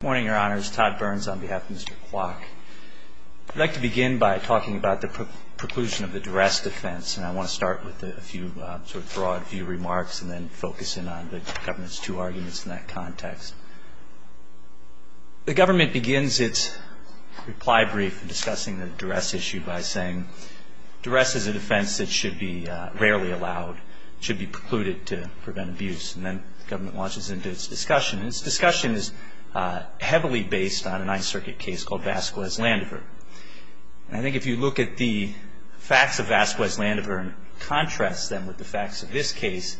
Good morning, your honors. Todd Burns on behalf of Mr. Kuok. I'd like to begin by talking about the preclusion of the duress defense. And I want to start with a few sort of broad few remarks and then focus in on the government's two arguments in that context. The government begins its reply brief discussing the duress issue by saying, duress is a defense that should be rarely allowed, should be precluded to prevent abuse. And then the government launches into its discussion. Its discussion is heavily based on a Ninth Circuit case called Vasquez-Landever. I think if you look at the facts of Vasquez-Landever and contrast them with the facts of this case,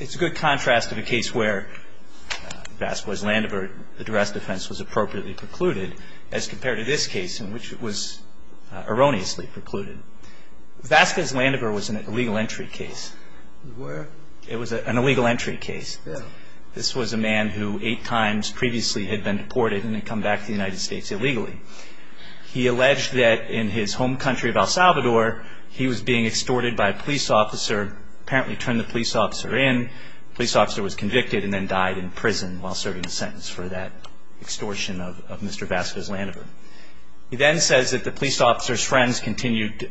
it's a good contrast to the case where Vasquez-Landever, the duress defense, was appropriately precluded, as compared to this case in which it was erroneously precluded. Vasquez-Landever was an illegal entry case. It was an illegal entry case. This was a man who eight times previously had been deported and had come back to the United States illegally. He alleged that in his home country of El Salvador, he was being extorted by a police officer, apparently turned the police officer in. The police officer was convicted and then died in prison while serving a sentence for that extortion of Mr. Vasquez-Landever. He then says that the police officer's friends continued,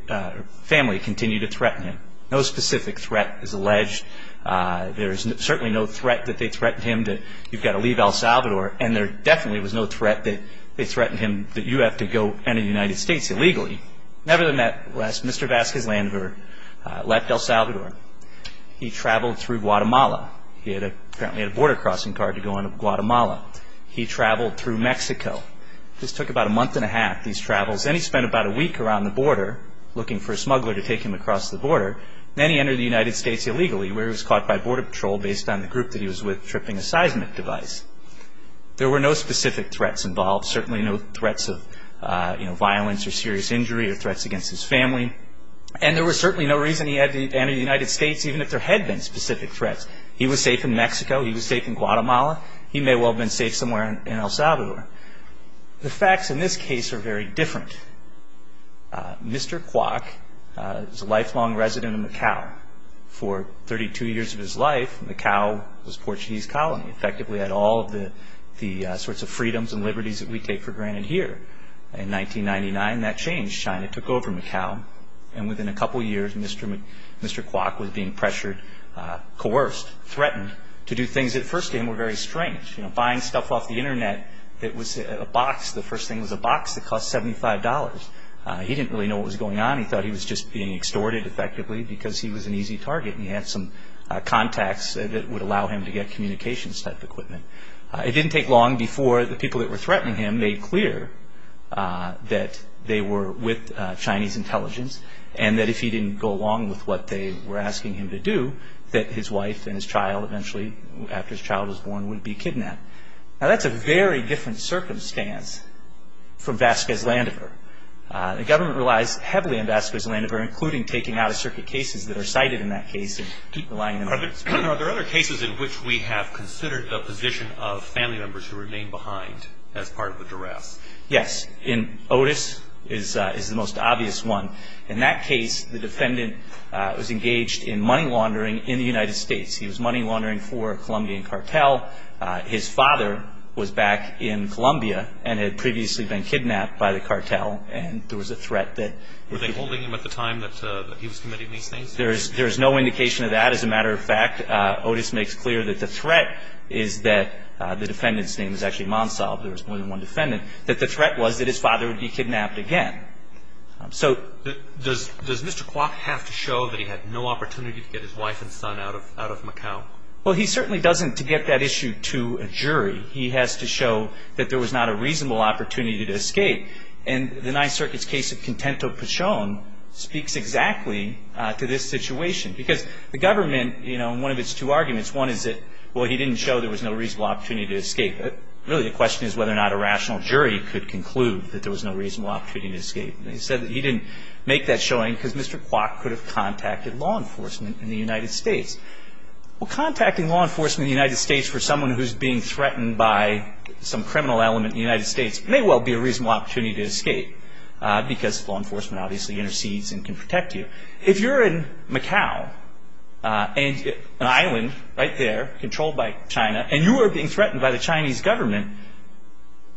family continued to threaten him. No specific threat is alleged. There is certainly no threat that they threatened him that you've got to leave El Salvador, and there definitely was no threat that they threatened him that you have to go into the United States illegally. Nevertheless, Mr. Vasquez-Landever left El Salvador. He traveled through Guatemala. He apparently had a border crossing card to go into Guatemala. He traveled through Mexico. This took about a month and a half, these travels, and he spent about a week around the border, looking for a smuggler to take him across the border. Then he entered the United States illegally, where he was caught by border patrol based on the group that he was with tripping a seismic device. There were no specific threats involved, certainly no threats of violence or serious injury or threats against his family, and there was certainly no reason he had to enter the United States, even if there had been specific threats. He was safe in Mexico. He was safe in Guatemala. He may well have been safe somewhere in El Salvador. The facts in this case are very different. Mr. Kwok was a lifelong resident of Macau. For 32 years of his life, Macau was a Portuguese colony. Effectively, it had all of the sorts of freedoms and liberties that we take for granted here. In 1999, that changed. China took over Macau, and within a couple of years, Mr. Kwok was being pressured, coerced, threatened to do things that at first to him were very strange. Buying stuff off the Internet that was a box, the first thing was a box that cost $75. He didn't really know what was going on. He thought he was just being extorted, effectively, because he was an easy target and he had some contacts that would allow him to get communications type equipment. It didn't take long before the people that were threatening him made clear that they were with Chinese intelligence and that if he didn't go along with what they were asking him to do, that his wife and his child, eventually, after his child was born, would be kidnapped. Now, that's a very different circumstance from Vasquez-Landover. The government relies heavily on Vasquez-Landover, including taking out-of-circuit cases that are cited in that case. Are there other cases in which we have considered the position of family members who remain behind as part of the duress? Yes. Otis is the most obvious one. In that case, the defendant was engaged in money laundering in the United States. He was money laundering for a Colombian cartel. His father was back in Colombia and had previously been kidnapped by the cartel, and there was a threat that- Were they holding him at the time that he was committing these things? There is no indication of that. As a matter of fact, Otis makes clear that the threat is that- The defendant's name is actually Mansal, but there was more than one defendant- that the threat was that his father would be kidnapped again. So- Does Mr. Kwok have to show that he had no opportunity to get his wife and son out of Macau? Well, he certainly doesn't, to get that issue to a jury. He has to show that there was not a reasonable opportunity to escape. And the Ninth Circuit's case of Contento Pachon speaks exactly to this situation. Because the government, you know, in one of its two arguments, one is that, well, he didn't show there was no reasonable opportunity to escape. Really, the question is whether or not a rational jury could conclude that there was no reasonable opportunity to escape. And they said that he didn't make that showing because Mr. Kwok could have contacted law enforcement in the United States. Well, contacting law enforcement in the United States for someone who's being threatened by some criminal element in the United States may well be a reasonable opportunity to escape, because law enforcement obviously intercedes and can protect you. If you're in Macau, an island right there, controlled by China, and you are being threatened by the Chinese government,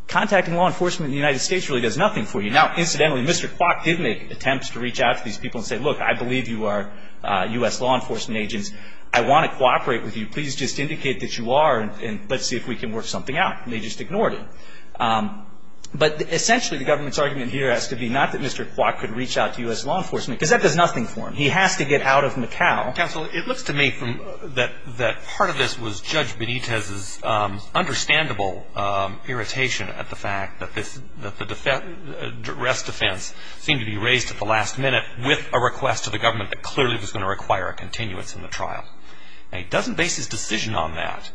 contacting law enforcement in the United States really does nothing for you. Now, incidentally, Mr. Kwok did make attempts to reach out to these people and say, look, I believe you are U.S. law enforcement agents. I want to cooperate with you. Please just indicate that you are, and let's see if we can work something out. And they just ignored him. But essentially, the government's argument here has to be not that Mr. Kwok could reach out to U.S. law enforcement, because that does nothing for him. He has to get out of Macau. Counsel, it looks to me that part of this was Judge Benitez's understandable irritation at the fact that this, that the arrest defense seemed to be raised at the last minute with a request to the government that clearly was going to require a continuance in the trial. Now, he doesn't base his decision on that,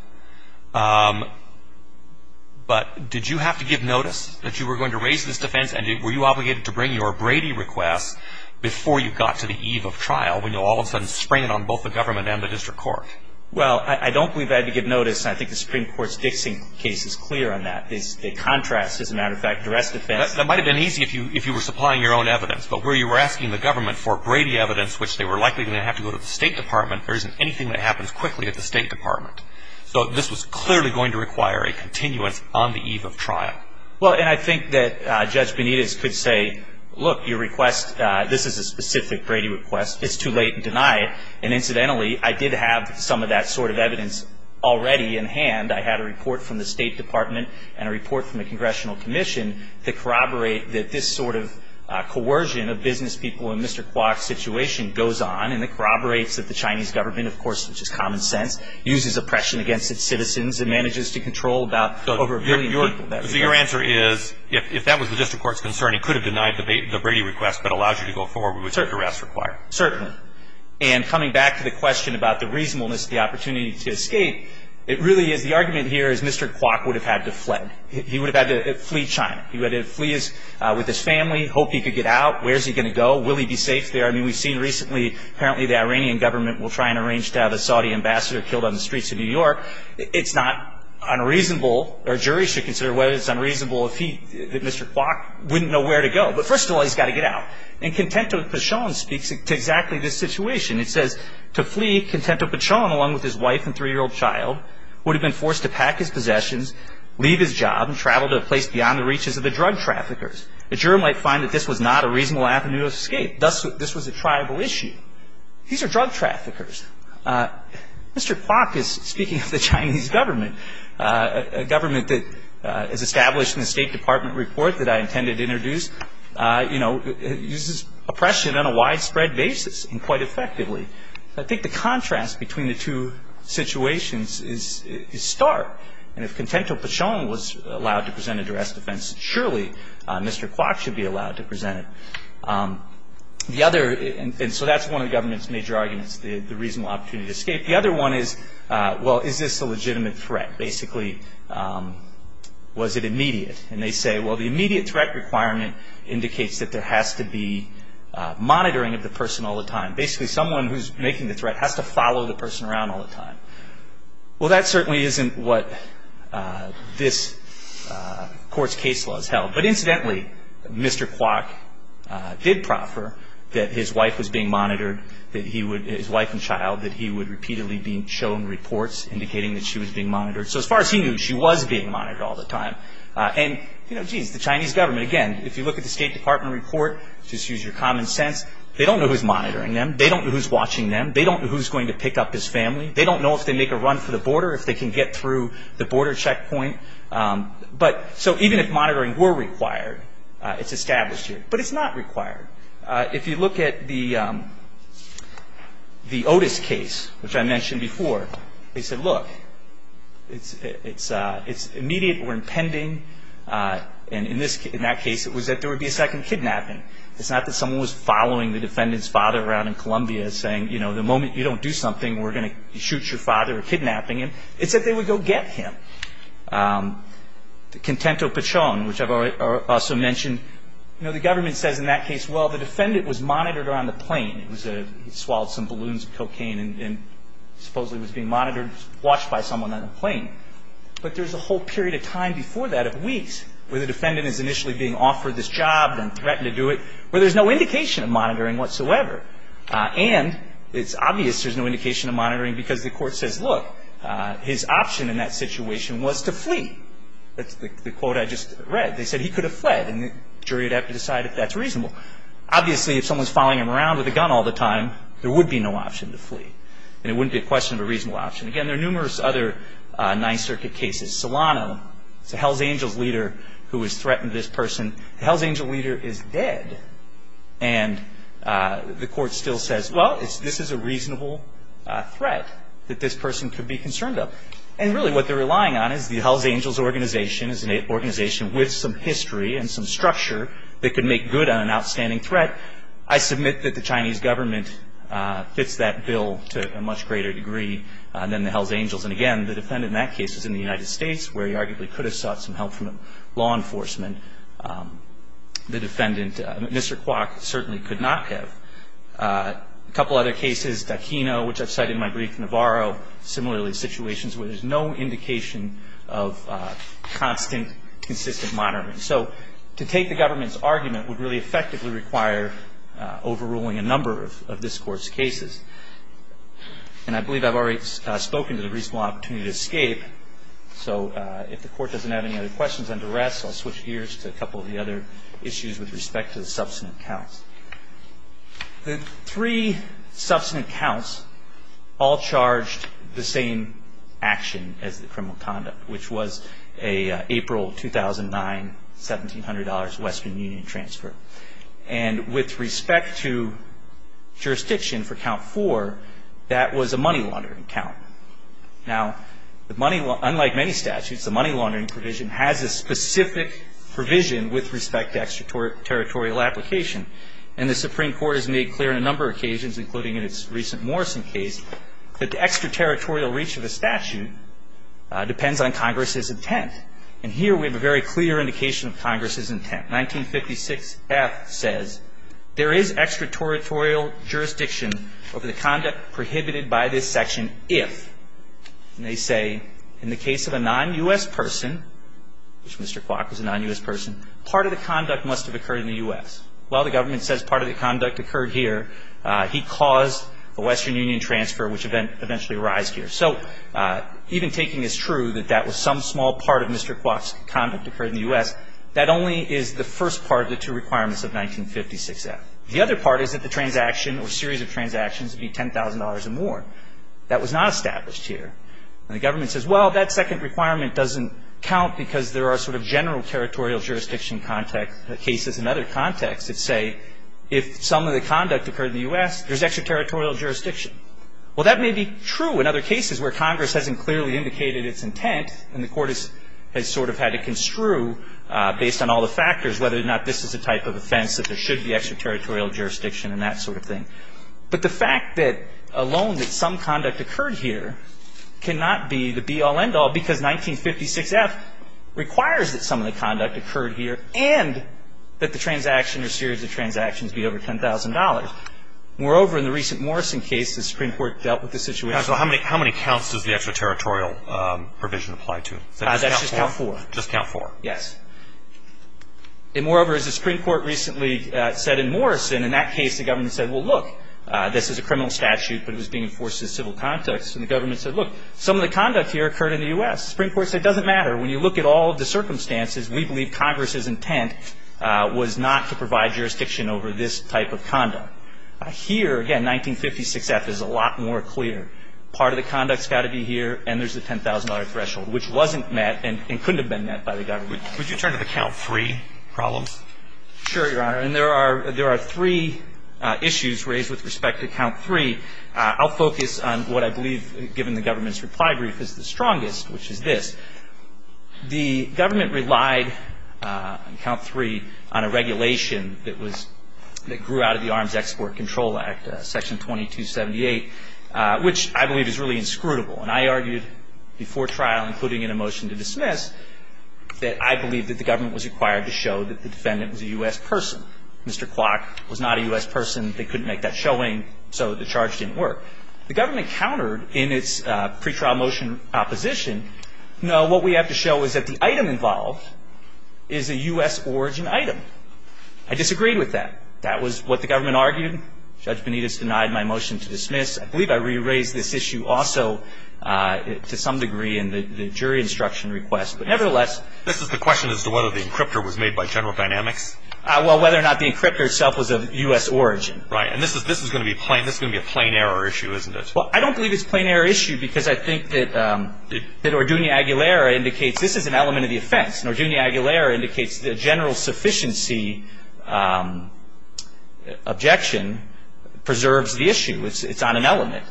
but did you have to give notice that you were going to raise this defense, and were you obligated to bring your Brady request before you got to the eve of trial, when you all of a sudden sprang it on both the government and the district court? Well, I don't believe I had to give notice, and I think the Supreme Court's Dixie case is clear on that. The contrast, as a matter of fact, the arrest defense. That might have been easy if you were supplying your own evidence, but where you were asking the government for Brady evidence, which they were likely going to have to go to the State Department, there isn't anything that happens quickly at the State Department. So this was clearly going to require a continuance on the eve of trial. Well, and I think that Judge Benitez could say, look, your request, this is a specific Brady request. It's too late to deny it, and incidentally, I did have some of that sort of evidence already in hand. I had a report from the State Department and a report from the Congressional Commission that corroborate that this sort of coercion of business people in Mr. Kwok's situation goes on, and it corroborates that the Chinese government, of course, which is common sense, uses oppression against its citizens and manages to control about over a billion people. So your answer is if that was the district court's concern, it could have denied the Brady request, but allows you to go forward with certain arrests required. Certainly. And coming back to the question about the reasonableness of the opportunity to escape, it really is the argument here is Mr. Kwok would have had to fled. He would have had to flee China. He would have had to flee with his family, hope he could get out. Where is he going to go? Will he be safe there? I mean, we've seen recently, apparently, the Iranian government will try and arrange to have a Saudi ambassador killed on the streets of New York. It's not unreasonable, or a jury should consider whether it's unreasonable, if he, Mr. Kwok, wouldn't know where to go. But first of all, he's got to get out. And Contento-Pachon speaks to exactly this situation. It says, to flee, Contento-Pachon, along with his wife and 3-year-old child, would have been forced to pack his possessions, leave his job, and travel to a place beyond the reaches of the drug traffickers. The juror might find that this was not a reasonable avenue of escape. Thus, this was a tribal issue. These are drug traffickers. Mr. Kwok is speaking of the Chinese government, a government that is established in the State Department report that I intended to introduce, you know, uses oppression on a widespread basis and quite effectively. I think the contrast between the two situations is stark. And if Contento-Pachon was allowed to present a duress defense, surely Mr. Kwok should be allowed to present it. The other, and so that's one of the government's major arguments, the reasonable opportunity to escape. The other one is, well, is this a legitimate threat? Basically, was it immediate? And they say, well, the immediate threat requirement indicates that there has to be monitoring of the person all the time. Basically, someone who's making the threat has to follow the person around all the time. Well, that certainly isn't what this court's case law has held. But incidentally, Mr. Kwok did proffer that his wife was being monitored, that he would, his wife and child, that he would repeatedly be shown reports indicating that she was being monitored. So as far as he knew, she was being monitored all the time. And, you know, geez, the Chinese government, again, if you look at the State Department report, just use your common sense, they don't know who's monitoring them. They don't know who's watching them. They don't know who's going to pick up his family. They don't know if they make a run for the border, if they can get through the border checkpoint. So even if monitoring were required, it's established here. But it's not required. If you look at the Otis case, which I mentioned before, they said, look, it's immediate or impending. And in that case, it was that there would be a second kidnapping. It's not that someone was following the defendant's father around in Colombia saying, you know, the moment you don't do something, we're going to shoot your father or kidnapping him. It's that they would go get him. The Contento Pichon, which I've also mentioned, you know, the government says in that case, well, the defendant was monitored on the plane. He swallowed some balloons of cocaine and supposedly was being monitored, watched by someone on the plane. But there's a whole period of time before that, of weeks, where the defendant is initially being offered this job and threatened to do it where there's no indication of monitoring whatsoever. And it's obvious there's no indication of monitoring because the court says, look, his option in that situation was to flee. That's the quote I just read. They said he could have fled, and the jury would have to decide if that's reasonable. Obviously, if someone's following him around with a gun all the time, there would be no option to flee. And it wouldn't be a question of a reasonable option. Again, there are numerous other Ninth Circuit cases. Solano is a Hells Angels leader who has threatened this person. The Hells Angels leader is dead, and the court still says, well, this is a reasonable threat that this person could be concerned of. And really what they're relying on is the Hells Angels organization is an organization with some history and some structure that could make good on an outstanding threat. I submit that the Chinese government fits that bill to a much greater degree than the Hells Angels. And, again, the defendant in that case is in the United States, where he arguably could have sought some help from law enforcement. The defendant, Mr. Kwok, certainly could not have. A couple other cases, Daquino, which I've cited in my brief, Navarro, similarly situations where there's no indication of constant, consistent monitoring. So to take the government's argument would really effectively require overruling a number of this Court's cases. And I believe I've already spoken to the reasonable opportunity to escape. So if the Court doesn't have any other questions under arrest, I'll switch gears to a couple of the other issues with respect to the substantive counts. The three substantive counts all charged the same action as the criminal conduct, which was an April 2009, $1,700 Western Union transfer. And with respect to jurisdiction for count four, that was a money laundering count. Now, unlike many statutes, the money laundering provision has a specific provision with respect to extraterritorial application. And the Supreme Court has made clear on a number of occasions, including in its recent Morrison case, that the extraterritorial reach of the statute depends on Congress's intent. And here we have a very clear indication of Congress's intent. 1956F says, there is extraterritorial jurisdiction over the conduct prohibited by this section if, and they say, in the case of a non-U.S. person, which Mr. Kwok was a non-U.S. person, part of the conduct must have occurred in the U.S. Well, the government says part of the conduct occurred here. He caused the Western Union transfer, which eventually arised here. So even taking as true that that was some small part of Mr. Kwok's conduct occurred in the U.S., that only is the first part of the two requirements of 1956F. The other part is that the transaction or series of transactions would be $10,000 or more. That was not established here. And the government says, well, that second requirement doesn't count because there are sort of general territorial jurisdiction cases in other contexts that say if some of the conduct occurred in the U.S., there's extraterritorial jurisdiction. Well, that may be true in other cases where Congress hasn't clearly indicated its intent and the court has sort of had to construe, based on all the factors, whether or not this is a type of offense that there should be extraterritorial jurisdiction and that sort of thing. But the fact that alone that some conduct occurred here cannot be the be-all, end-all because 1956F requires that some of the conduct occurred here and that the transaction or series of transactions be over $10,000. Moreover, in the recent Morrison case, the Supreme Court dealt with the situation. How many counts does the extraterritorial provision apply to? Just count four. Just count four. Yes. And moreover, as the Supreme Court recently said in Morrison, in that case the government said, well, look, this is a criminal statute, but it was being enforced in a civil context. And the government said, look, some of the conduct here occurred in the U.S. The Supreme Court said it doesn't matter. When you look at all of the circumstances, we believe Congress's intent was not to provide jurisdiction over this type of conduct. And so we believe that the Supreme Court's intent was not to provide jurisdiction over this type of conduct. Now, here, again, 1956F is a lot more clear. Part of the conduct's got to be here, and there's the $10,000 threshold, which wasn't met and couldn't have been met by the government. Would you turn to the count three problems? Sure, Your Honor. And there are three issues raised with respect to count three. I'll focus on what I believe, given the government's reply brief, is the strongest, which is this. The government relied on count three on a regulation that grew out of the Arms Export Control Act, Section 2278, which I believe is really inscrutable. And I argued before trial, including in a motion to dismiss, that I believe that the government was required to show that the defendant was a U.S. person. Mr. Clark was not a U.S. person. They couldn't make that showing, so the charge didn't work. The government countered in its pretrial motion opposition, no, what we have to show is that the item involved is a U.S. origin item. I disagreed with that. That was what the government argued. Judge Benitez denied my motion to dismiss. I believe I re-raised this issue also to some degree in the jury instruction request, but nevertheless. This is the question as to whether the encryptor was made by General Dynamics? Well, whether or not the encryptor itself was of U.S. origin. Right. And this is going to be a plain error issue, isn't it? Well, I don't believe it's a plain error issue because I think that Ordunia Aguilera indicates this is an element of the offense. And Ordunia Aguilera indicates the general sufficiency objection preserves the issue. It's on an element.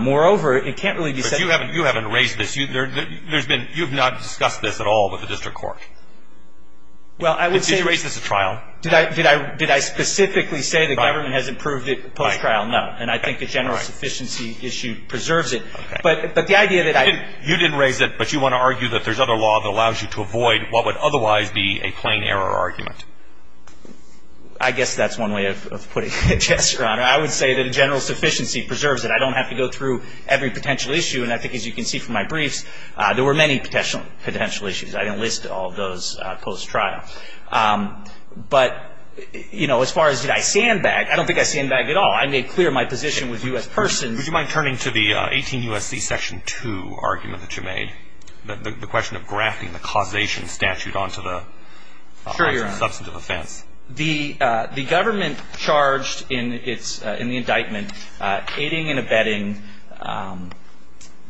Moreover, it can't really be said. But you haven't raised this. You've not discussed this at all with the district court. Well, I would say. Did you raise this at trial? Did I specifically say the government has improved it post-trial? No. And I think the general sufficiency issue preserves it. Okay. But the idea that I... You didn't raise it, but you want to argue that there's other law that allows you to avoid what would otherwise be a plain error argument. I guess that's one way of putting it, yes, Your Honor. I would say that a general sufficiency preserves it. I don't have to go through every potential issue. And I think, as you can see from my briefs, there were many potential issues. I didn't list all of those post-trial. But, you know, as far as did I sandbag, I don't think I sandbagged at all. I made clear my position with you as persons. Would you mind turning to the 18 U.S.C. Section 2 argument that you made, the question of grafting the causation statute onto the... Sure, Your Honor.... onto the substantive offense. The government charged in the indictment aiding and abetting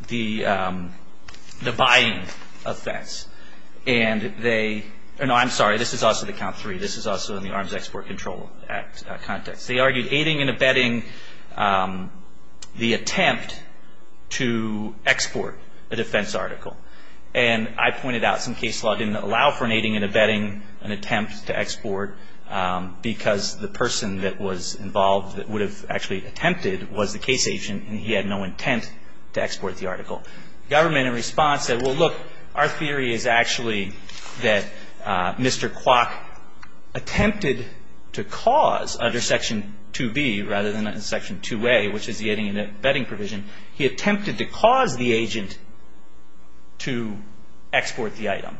the buying offense. And they... No, I'm sorry. This is also the count three. This is also in the Arms Export Control Act context. They argued aiding and abetting the attempt to export a defense article. And I pointed out some case law didn't allow for an aiding and abetting an attempt to export, because the person that was involved that would have actually attempted was the case agent, and he had no intent to export the article. Government, in response, said, well, look, our theory is actually that Mr. Kwok attempted to cause, under Section 2B rather than Section 2A, which is the aiding and abetting provision, he attempted to cause the agent to export the item.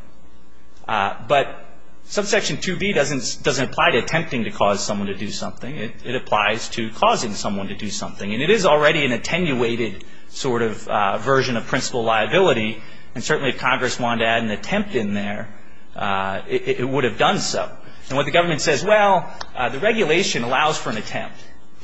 But Subsection 2B doesn't apply to attempting to cause someone to do something. It applies to causing someone to do something. And it is already an attenuated sort of version of principal liability, and certainly if Congress wanted to add an attempt in there, it would have done so. And what the government says, well, the regulation allows for an attempt.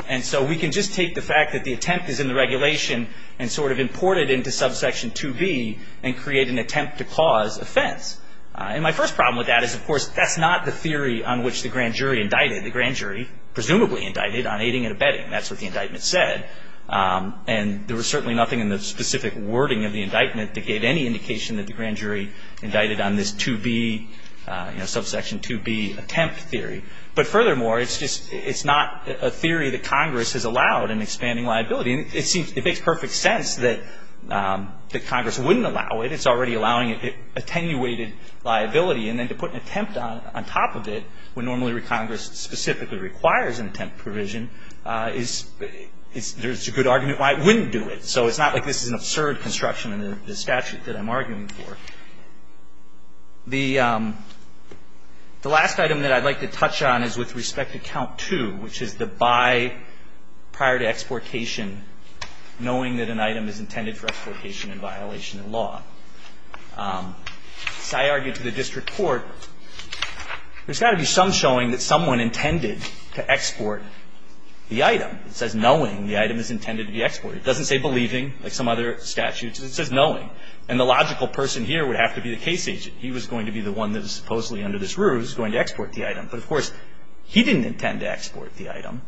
And so we can just take the fact that the attempt is in the regulation and sort of import it into Subsection 2B and create an attempt to cause offense. And my first problem with that is, of course, that's not the theory on which the grand jury indicted. The grand jury presumably indicted on aiding and abetting. That's what the indictment said. And there was certainly nothing in the specific wording of the indictment that gave any indication that the grand jury indicted on this 2B, you know, Subsection 2B attempt theory. But furthermore, it's just not a theory that Congress has allowed in expanding liability. And it makes perfect sense that Congress wouldn't allow it. It's already allowing attenuated liability. And then to put an attempt on top of it, when normally Congress specifically requires an attempt provision, there's a good argument why it wouldn't do it. So it's not like this is an absurd construction in the statute that I'm arguing for. The last item that I'd like to touch on is with respect to Count 2, which is the by prior to exportation, knowing that an item is intended for exportation in violation of law. As I argued to the district court, there's got to be some showing that someone intended to export the item. It says knowing the item is intended to be exported. It doesn't say believing, like some other statutes. It says knowing. And the logical person here would have to be the case agent. He was going to be the one that is supposedly, under this rule, is going to export the item. But, of course, he didn't intend to export the item.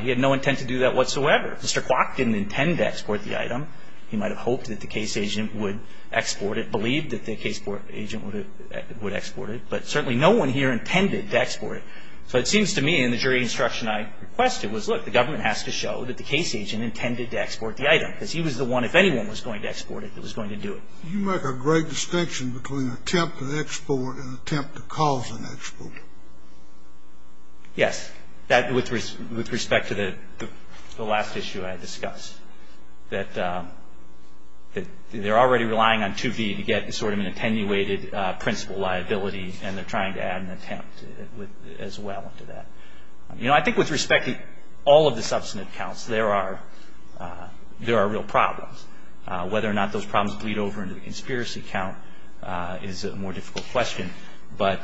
He had no intent to do that whatsoever. Mr. Kwok didn't intend to export the item. He might have hoped that the case agent would export it, believed that the case agent would export it. But certainly no one here intended to export it. So it seems to me in the jury instruction I requested was, look, the government has to show that the case agent intended to export the item. Because he was the one, if anyone was going to export it, that was going to do it. You make a great distinction between an attempt to export and an attempt to cause an export. Yes. With respect to the last issue I discussed, that they're already relying on 2V to get sort of an attenuated principle liability, and they're trying to add an attempt as well to that. You know, I think with respect to all of the substantive counts, there are real problems. Whether or not those problems bleed over into the conspiracy count is a more difficult question. But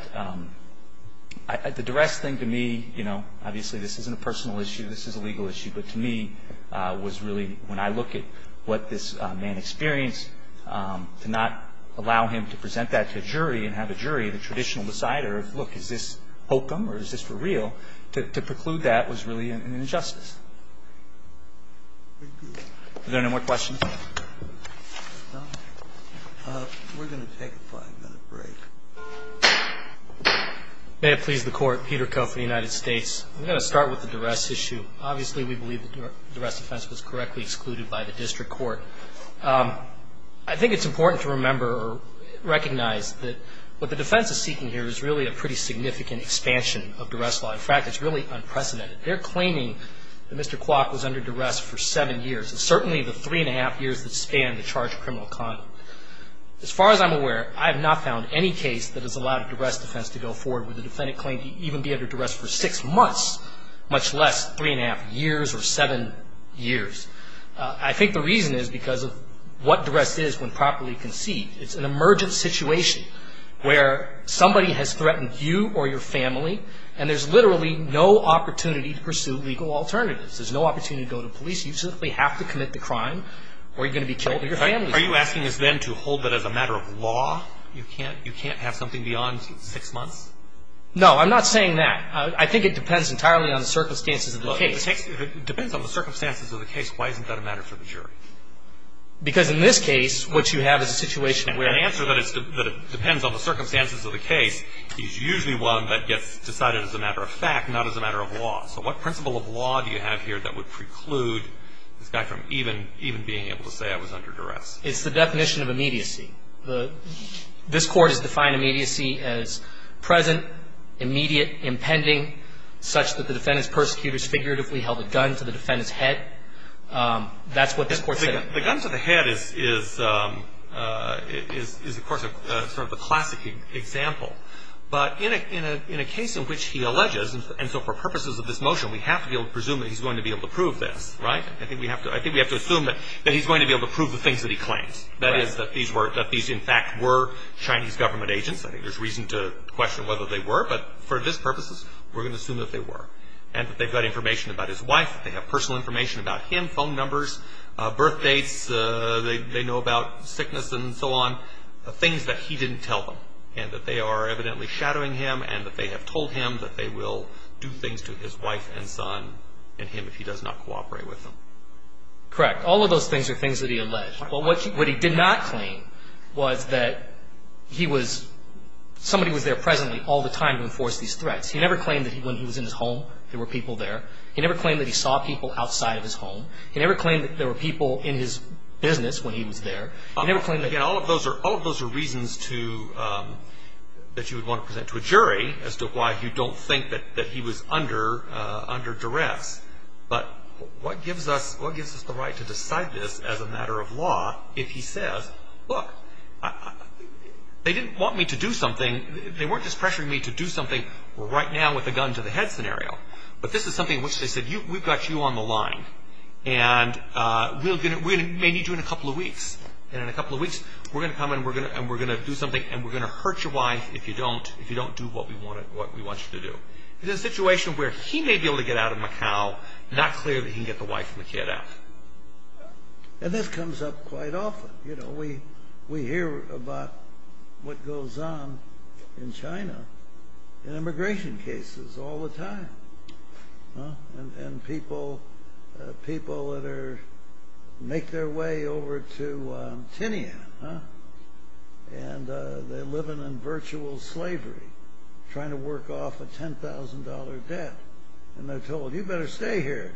the duress thing to me, you know, obviously this isn't a personal issue. This is a legal issue. But to me was really, when I look at what this man experienced, to not allow him to present that to a jury and have a jury, the traditional decider, look, is this hokum or is this for real, to preclude that was really an injustice. Is there any more questions? No. We're going to take a five-minute break. May it please the Court. Peter Ko from the United States. I'm going to start with the duress issue. Obviously, we believe the duress offense was correctly excluded by the district court. I think it's important to remember or recognize that what the defense is seeking here is really a pretty significant expansion of duress law. In fact, it's really unprecedented. They're claiming that Mr. Kwok was under duress for seven years, and certainly the three-and-a-half years that span the charged criminal conduct. As far as I'm aware, I have not found any case that has allowed a duress defense to go forward where the defendant claimed to even be under duress for six months, much less three-and-a-half years or seven years. I think the reason is because of what duress is when properly conceived. It's an emergent situation where somebody has threatened you or your family, and there's literally no opportunity to pursue legal alternatives. There's no opportunity to go to police. You simply have to commit the crime or you're going to be killed or your family is going to be killed. Are you asking us then to hold that as a matter of law? You can't have something beyond six months? No, I'm not saying that. I think it depends entirely on the circumstances of the case. If it depends on the circumstances of the case, why isn't that a matter for the jury? Because in this case, what you have is a situation where The answer that it depends on the circumstances of the case is usually one that gets decided as a matter of fact, not as a matter of law. So what principle of law do you have here that would preclude this guy from even being able to say I was under duress? It's the definition of immediacy. This Court has defined immediacy as present, immediate, impending, such that the defendant's persecutors figuratively held a gun to the defendant's head. That's what this Court said. The gun to the head is, of course, sort of a classic example. But in a case in which he alleges, and so for purposes of this motion, we have to be able to presume that he's going to be able to prove this, right? I think we have to assume that he's going to be able to prove the things that he claims, that is, that these in fact were Chinese government agents. I think there's reason to question whether they were. But for this purposes, we're going to assume that they were, and that they've got information about his wife, that they have personal information about him, phone numbers, birthdates, they know about sickness and so on, things that he didn't tell them, and that they are evidently shadowing him, and that they have told him that they will do things to his wife and son and him if he does not cooperate with them. Correct. All of those things are things that he alleged. Well, what he did not claim was that he was, somebody was there presently all the time to enforce these threats. He never claimed that when he was in his home, there were people there. He never claimed that he saw people outside of his home. He never claimed that there were people in his business when he was there. He never claimed that he saw people outside of his home. Again, all of those are reasons to, that you would want to present to a jury as to why you don't think that he was under duress. But what gives us the right to decide this as a matter of law if he says, look, they didn't want me to do something, they weren't just pressuring me to do something right now with a gun to the head scenario. But this is something in which they said, we've got you on the line. And we may need you in a couple of weeks. And in a couple of weeks, we're going to come and we're going to do something and we're going to hurt your wife if you don't do what we want you to do. In a situation where he may be able to get out of Macau, not clear that he can get the wife and the kid out. And this comes up quite often. You know, we hear about what goes on in China in immigration cases all the time. And people that make their way over to Tinian, and they're living in virtual slavery, trying to work off a $10,000 debt. And they're told, you better stay here,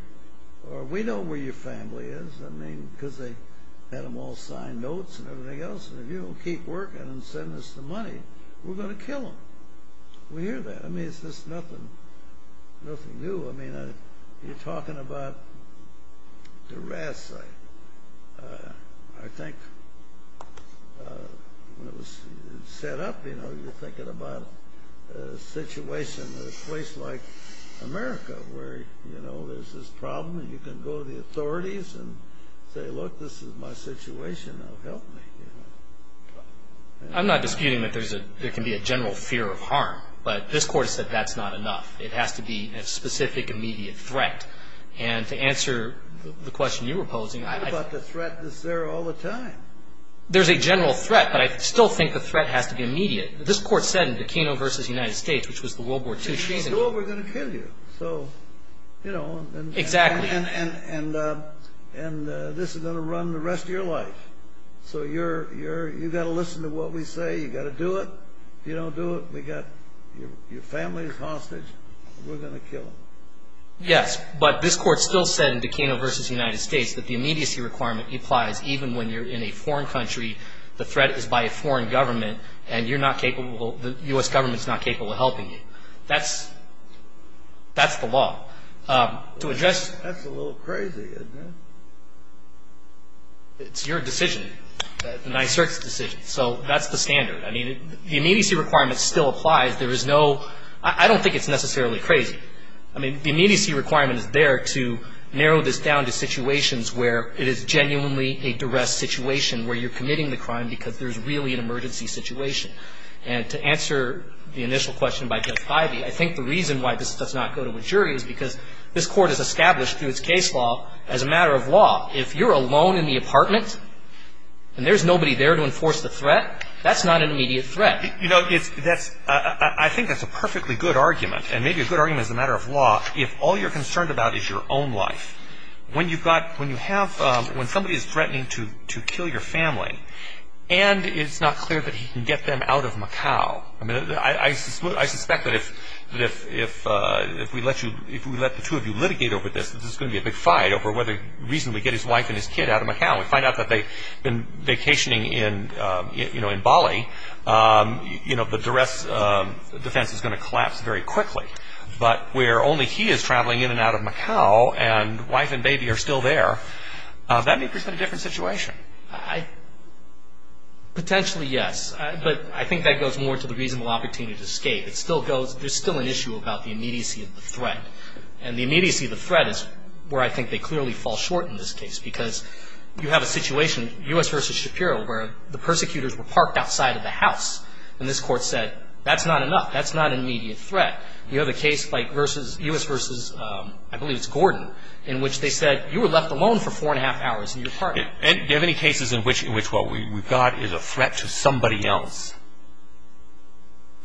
or we know where your family is. I mean, because they had them all sign notes and everything else. And if you don't keep working and send us the money, we're going to kill them. We hear that. I mean, it's just nothing new. I mean, you're talking about duress. I think when it was set up, you know, you're thinking about a situation, a place like America where, you know, there's this problem and you can go to the authorities and say, look, this is my situation. Now help me. I'm not disputing that there can be a general fear of harm, but this Court has said that's not enough. It has to be a specific, immediate threat. And to answer the question you were posing, I think... But the threat is there all the time. There's a general threat, but I still think the threat has to be immediate. This Court said in Burkino v. United States, which was the World War II treason... You know we're going to kill you. Exactly. And this is going to run the rest of your life. So you've got to listen to what we say. You've got to do it. If you don't do it, your family is hostage. We're going to kill them. Yes, but this Court still said in Burkino v. United States that the immediacy requirement applies even when you're in a foreign country, the threat is by a foreign government, and the U.S. government is not capable of helping you. That's the law. That's a little crazy, isn't it? It's your decision. NYSERDA's decision. So that's the standard. I mean, the immediacy requirement still applies. There is no... I don't think it's necessarily crazy. I mean, the immediacy requirement is there to narrow this down to situations where it is genuinely a duress situation where you're committing the crime because there's really an emergency situation. And to answer the initial question by Judge Ivey, I think the reason why this does not go to a jury is because this Court has established through its case law as a matter of law, if you're alone in the apartment and there's nobody there to enforce the threat, that's not an immediate threat. You know, that's... I think that's a perfectly good argument, and maybe a good argument as a matter of law if all you're concerned about is your own life. When you've got... when you have... when somebody is threatening to kill your family and it's not clear that he can get them out of Macau, I mean, I suspect that if we let you... if we let the two of you litigate over this, this is going to be a big fight over whether reasonably get his wife and his kid out of Macau. If we find out that they've been vacationing in Bali, you know, the duress defense is going to collapse very quickly. But where only he is traveling in and out of Macau and wife and baby are still there, that may present a different situation. Potentially, yes. But I think that goes more to the reasonable opportunity to escape. It still goes... there's still an issue about the immediacy of the threat. And the immediacy of the threat is where I think they clearly fall short in this case because you have a situation, U.S. v. Shapiro, where the persecutors were parked outside of the house. And this court said, that's not enough. That's not an immediate threat. You have a case like U.S. v. I believe it's Gordon, in which they said, you were left alone for four and a half hours and you're parking. Do you have any cases in which what we've got is a threat to somebody else?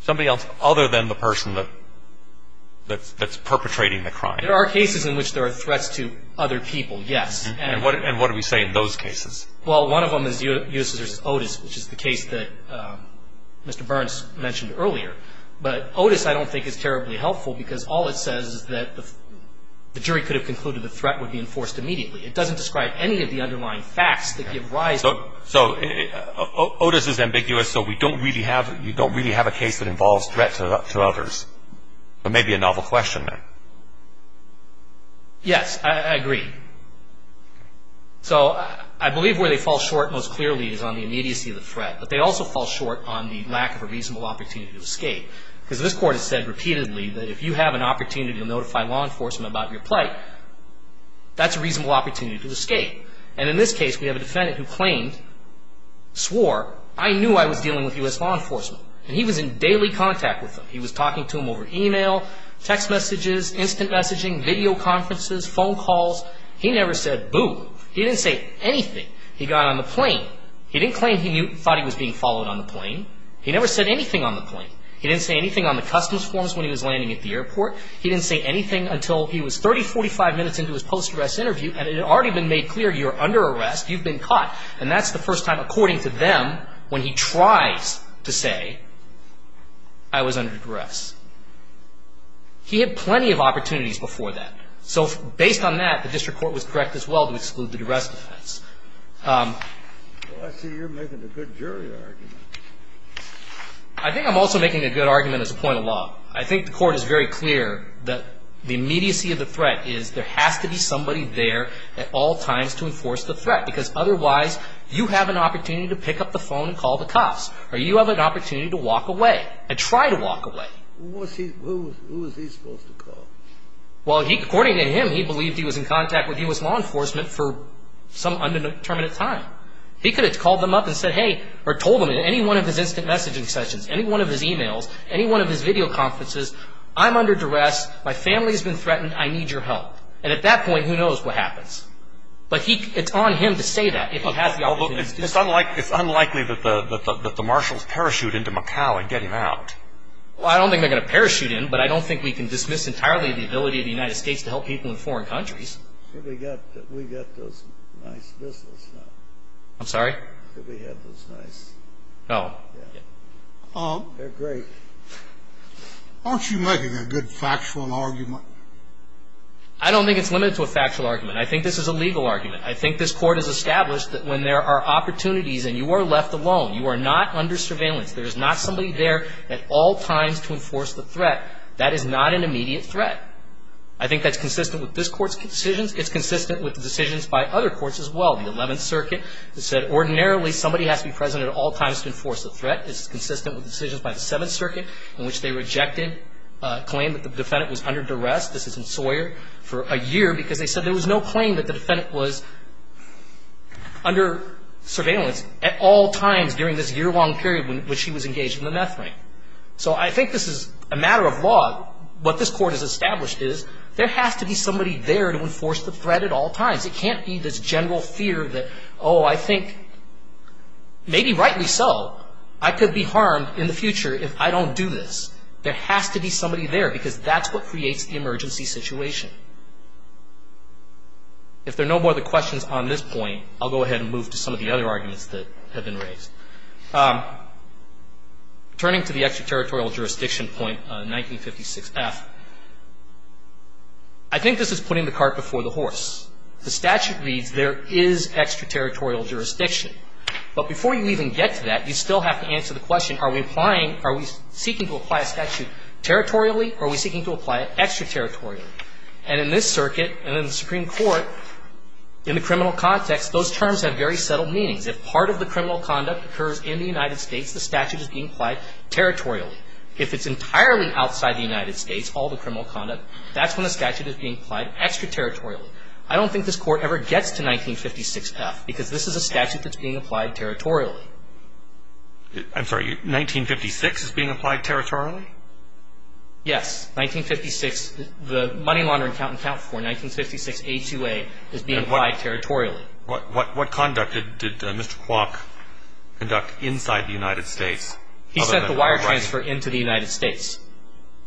Somebody else other than the person that's perpetrating the crime? There are cases in which there are threats to other people, yes. And what do we say in those cases? Well, one of them is U.S. v. Otis, which is the case that Mr. Burns mentioned earlier. But Otis I don't think is terribly helpful because all it says is that the jury could have concluded the threat would be enforced immediately. It doesn't describe any of the underlying facts that give rise to... So Otis is ambiguous, so we don't really have a case that involves threats to others. It may be a novel question, then. Yes, I agree. So I believe where they fall short most clearly is on the immediacy of the threat, but they also fall short on the lack of a reasonable opportunity to escape. Because this Court has said repeatedly that if you have an opportunity to notify law enforcement about your plight, that's a reasonable opportunity to escape. And in this case, we have a defendant who claimed, swore, I knew I was dealing with U.S. law enforcement. And he was in daily contact with them. He was talking to them over email, text messages, instant messaging, video conferences, phone calls. He never said boo. He didn't say anything. He got on the plane. He didn't claim he thought he was being followed on the plane. He never said anything on the plane. He didn't say anything on the customs forms when he was landing at the airport. He didn't say anything until he was 30, 45 minutes into his post-arrest interview and it had already been made clear you're under arrest, you've been caught. And that's the first time, according to them, when he tries to say, I was under arrest. He had plenty of opportunities before that. So based on that, the district court was correct as well to exclude the duress defense. Well, I see you're making a good jury argument. I think I'm also making a good argument as a point of law. I think the court is very clear that the immediacy of the threat is there has to be somebody there at all times to enforce the threat because otherwise you have an opportunity to pick up the phone and call the cops or you have an opportunity to walk away and try to walk away. Who was he supposed to call? Well, according to him, he believed he was in contact with U.S. law enforcement for some undetermined time. He could have called them up and said, hey, or told them in any one of his instant messaging sessions, any one of his e-mails, any one of his video conferences, I'm under duress, my family has been threatened, I need your help. And at that point, who knows what happens. But it's on him to say that if he has the opportunity. It's unlikely that the marshals parachute into Macau and get him out. Well, I don't think they're going to parachute in, but I don't think we can dismiss entirely the ability of the United States to help people in foreign countries. We've got those nice businessmen. I'm sorry? We've got those nice businessmen. Oh. They're great. Aren't you making a good factual argument? I don't think it's limited to a factual argument. I think this is a legal argument. I think this court has established that when there are opportunities and you are left alone, you are not under surveillance. There is not somebody there at all times to enforce the threat. That is not an immediate threat. I think that's consistent with this Court's decisions. It's consistent with the decisions by other courts as well. The Eleventh Circuit said ordinarily somebody has to be present at all times to enforce a threat. It's consistent with the decisions by the Seventh Circuit in which they rejected a claim that the defendant was under duress. This is in Sawyer for a year because they said there was no claim that the defendant was under surveillance at all times during this year-long period in which he was engaged in the meth ring. So I think this is a matter of law. What this Court has established is there has to be somebody there to enforce the threat at all times. It can't be this general fear that, oh, I think, maybe rightly so, I could be harmed in the future if I don't do this. There has to be somebody there because that's what creates the emergency situation. If there are no more questions on this point, I'll go ahead and move to some of the other arguments that have been raised. Turning to the extraterritorial jurisdiction point 1956F, I think this is putting the cart before the horse. The statute reads there is extraterritorial jurisdiction. But before you even get to that, you still have to answer the question, are we seeking to apply a statute territorially or are we seeking to apply it extraterritorially? And in this circuit and in the Supreme Court, in the criminal context, those terms have very settled meanings. If part of the criminal conduct occurs in the United States, the statute is being applied territorially. If it's entirely outside the United States, all the criminal conduct, that's when the statute is being applied extraterritorially. I don't think this Court ever gets to 1956F because this is a statute that's being applied territorially. I'm sorry. 1956 is being applied territorially? Yes. 1956, the money laundering count and count for 1956A2A is being applied territorially. What conduct did Mr. Kwok conduct inside the United States? He sent the wire transfer into the United States.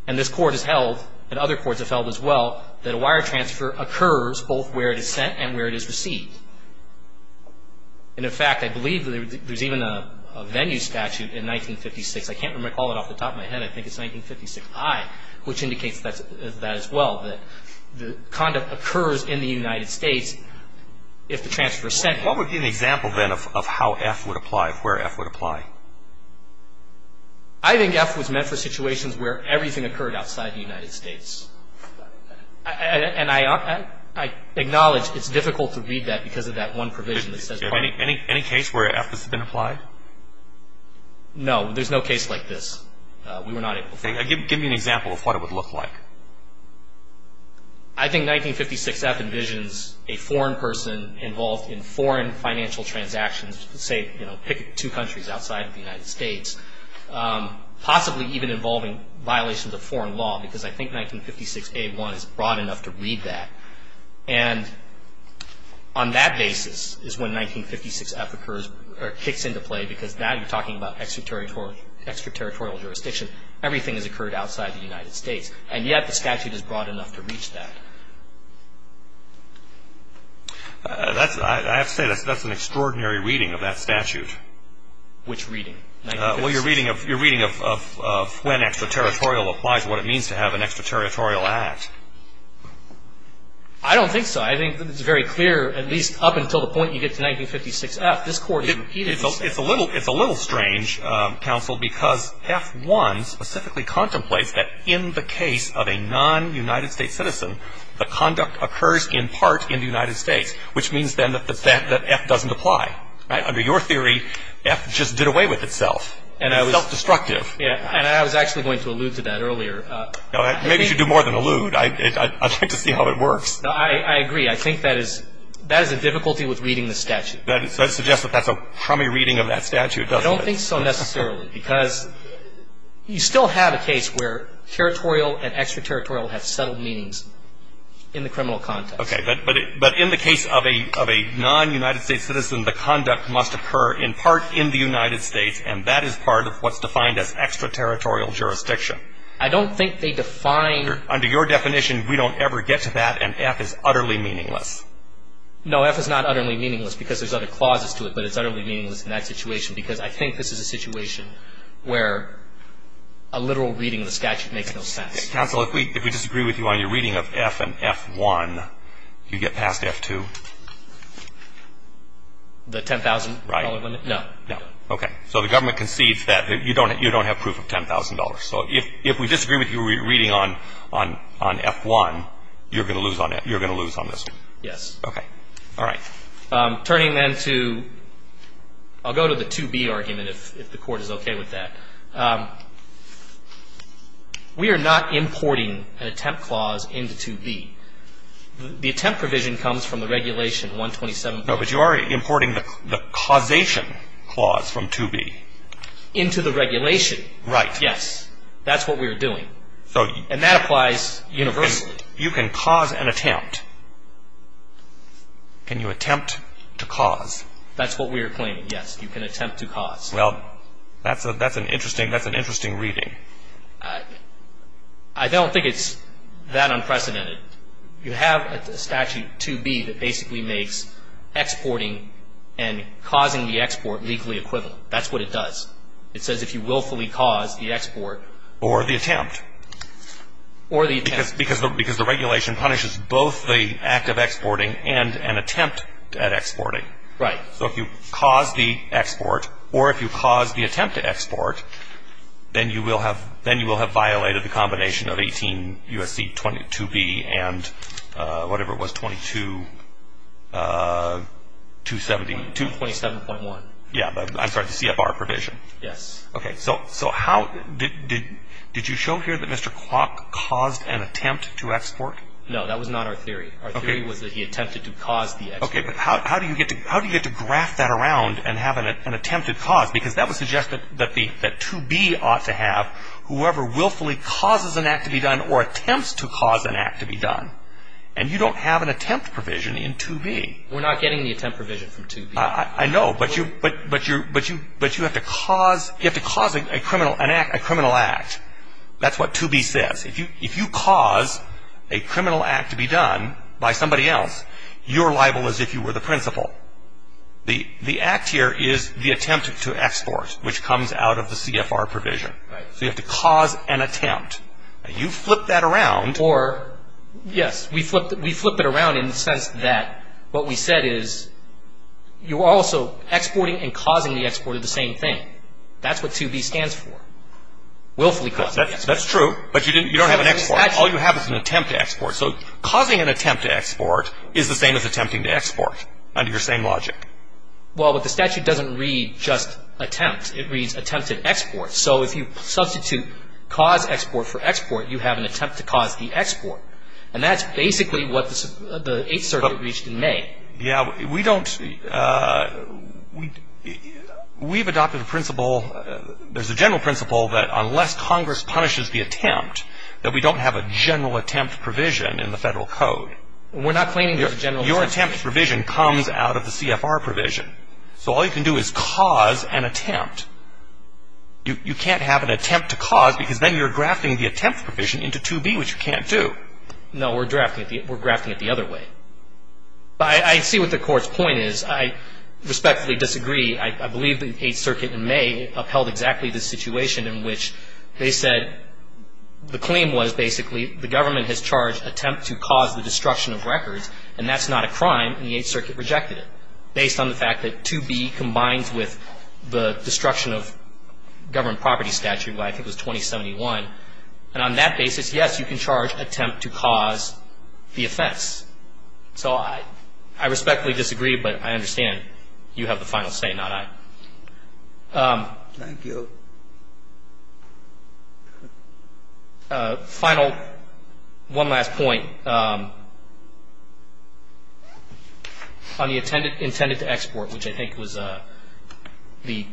And this Court has held, and other courts have held as well, that a wire transfer occurs both where it is sent and where it is received. And, in fact, I believe there's even a venue statute in 1956. I can't recall it off the top of my head. I think it's 1956I, which indicates that as well, that the conduct occurs in the United States if the transfer is sent. What would be an example, then, of how F would apply, of where F would apply? I think F was meant for situations where everything occurred outside the United States. And I acknowledge it's difficult to read that because of that one provision that says part. Any case where F has been applied? No. There's no case like this. We were not able to find it. Give me an example of what it would look like. I think 1956F envisions a foreign person involved in foreign financial transactions, say, you know, pick two countries outside of the United States, possibly even involving violations of foreign law because I think 1956A1 is broad enough to read that. And on that basis is when 1956F occurs or kicks into play because now you're talking about extraterritorial jurisdiction. Everything has occurred outside the United States. And yet the statute is broad enough to reach that. I have to say that's an extraordinary reading of that statute. Which reading? Well, your reading of when extraterritorial applies, what it means to have an extraterritorial act. I don't think so. I think it's very clear, at least up until the point you get to 1956F, this court has repeated itself. It's a little strange, counsel, because F1 specifically contemplates that in the case of a non-United States citizen, the conduct occurs in part in the United States, which means then that the fact that F doesn't apply. Under your theory, F just did away with itself. It's self-destructive. And I was actually going to allude to that earlier. Maybe you should do more than allude. I'd like to see how it works. I agree. I think that is a difficulty with reading the statute. That suggests that that's a crummy reading of that statute, doesn't it? I don't think so necessarily because you still have a case where territorial and extraterritorial have settled meanings in the criminal context. Okay. But in the case of a non-United States citizen, the conduct must occur in part in the United States, and that is part of what's defined as extraterritorial jurisdiction. I don't think they define Under your definition, we don't ever get to that, and F is utterly meaningless. No, F is not utterly meaningless because there's other clauses to it, but it's utterly meaningless in that situation because I think this is a situation where a literal reading of the statute makes no sense. Counsel, if we disagree with you on your reading of F and F1, you get past F2. The $10,000 limit? Right. No. No. So the government concedes that you don't have proof of $10,000. So if we disagree with your reading on F1, you're going to lose on this one. Yes. Okay. All right. Turning then to I'll go to the 2B argument if the Court is okay with that. We are not importing an attempt clause into 2B. The attempt provision comes from the regulation 127. No, but you are importing the causation clause from 2B. Into the regulation. Yes. That's what we are doing. And that applies universally. You can cause an attempt. Can you attempt to cause? That's what we are claiming, yes. You can attempt to cause. Well, that's an interesting reading. I don't think it's that unprecedented. You have a statute 2B that basically makes exporting and causing the export legally equivalent. That's what it does. It says if you willfully cause the export. Or the attempt. Or the attempt. Because the regulation punishes both the act of exporting and an attempt at exporting. Right. So if you cause the export or if you cause the attempt to export, then you will have violated the combination of 18 U.S.C. 22B and whatever it was, 22, 272. 27.1. Yeah. I'm sorry, the CFR provision. Yes. Okay. So how did you show here that Mr. Kwok caused an attempt to export? No. That was not our theory. Our theory was that he attempted to cause the export. Okay. But how do you get to graph that around and have an attempted cause? Because that would suggest that 2B ought to have whoever willfully causes an act to be done or attempts to cause an act to be done. And you don't have an attempt provision in 2B. We're not getting the attempt provision from 2B. I know, but you have to cause a criminal act. That's what 2B says. If you cause a criminal act to be done by somebody else, you're liable as if you were the principal. The act here is the attempt to export, which comes out of the CFR provision. Right. So you have to cause an attempt. And you flip that around. Yes, we flip it around in the sense that what we said is you're also exporting and causing the export are the same thing. That's what 2B stands for, willfully causing the export. That's true, but you don't have an export. All you have is an attempt to export. So causing an attempt to export is the same as attempting to export under your same logic. Well, but the statute doesn't read just attempt. It reads attempted export. So if you substitute cause export for export, you have an attempt to cause the export. And that's basically what the Eighth Circuit reached in May. Yes, we've adopted a principle. There's a general principle that unless Congress punishes the attempt, that we don't have a general attempt provision in the Federal Code. We're not claiming there's a general attempt. Your attempt provision comes out of the CFR provision. So all you can do is cause an attempt. You can't have an attempt to cause because then you're grafting the attempt provision into 2B, which you can't do. No, we're grafting it the other way. I see what the Court's point is. I respectfully disagree. I believe the Eighth Circuit in May upheld exactly this situation in which they said the claim was basically the government has charged attempt to cause the destruction of records, and that's not a crime, and the Eighth Circuit rejected it based on the fact that 2B combines with the destruction of government property statute, which I think was 2071. And on that basis, yes, you can charge attempt to cause the offense. So I respectfully disagree, but I understand you have the final say, not I. Thank you. Final one last point on the intended to export, which I think was the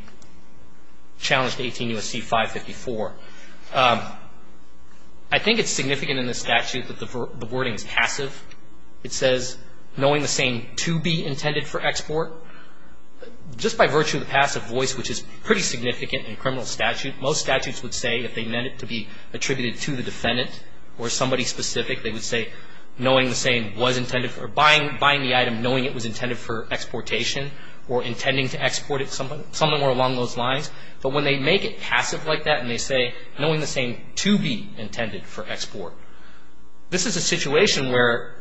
challenge to 18 U.S.C. 554. I think it's significant in the statute that the wording is passive. It says, knowing the same 2B intended for export, just by virtue of the passive voice, which is pretty significant in criminal statute. Most statutes would say if they meant it to be attributed to the defendant or somebody specific, they would say knowing the same was intended for buying the item, knowing it was intended for exportation or intending to export it, something along those lines. But when they make it passive like that and they say knowing the same 2B intended for export, this is a situation where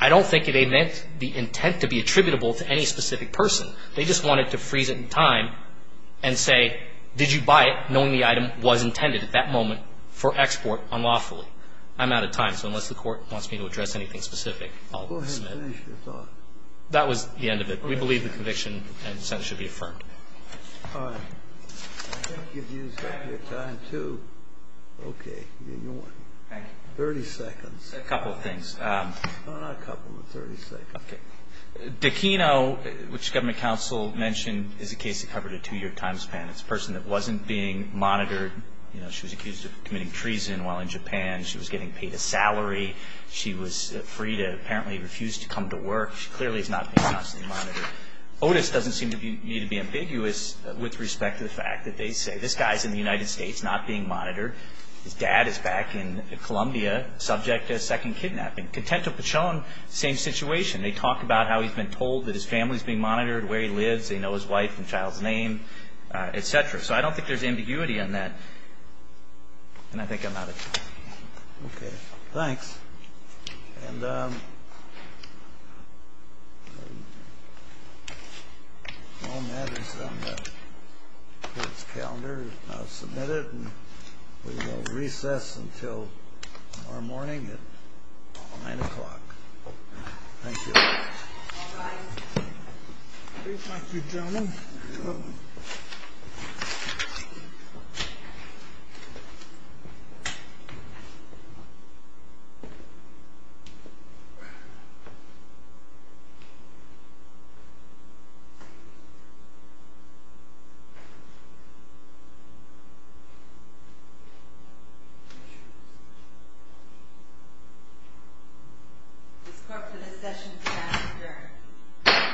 I don't think it meant the intent to be attributable to any specific person. They just wanted to freeze it in time and say did you buy it knowing the item was intended at that moment for export unlawfully. I'm out of time. So unless the Court wants me to address anything specific, I'll dismiss it. Go ahead and finish your thought. That was the end of it. We believe the conviction and sentence should be affirmed. All right. I think you've used up your time, too. Okay. 30 seconds. A couple of things. No, not a couple, but 30 seconds. Okay. Dequino, which Government Counsel mentioned, is a case that covered a two-year time span. It's a person that wasn't being monitored. You know, she was accused of committing treason while in Japan. She was getting paid a salary. She was free to apparently refuse to come to work. She clearly is not being constantly monitored. Otis doesn't seem to me to be ambiguous with respect to the fact that they say this guy is in the United States, not being monitored. His dad is back in Columbia, subject to second kidnapping. Contento Pachon, same situation. They talk about how he's been told that his family is being monitored, where he lives. They know his wife and child's name, et cetera. So I don't think there's ambiguity in that. And I think I'm out of time. Okay. Thanks. And all matters on this calendar are now submitted. And we will recess until tomorrow morning at 9 o'clock. Thank you. Thank you, gentlemen. Thank you. This corporate session is now adjourned.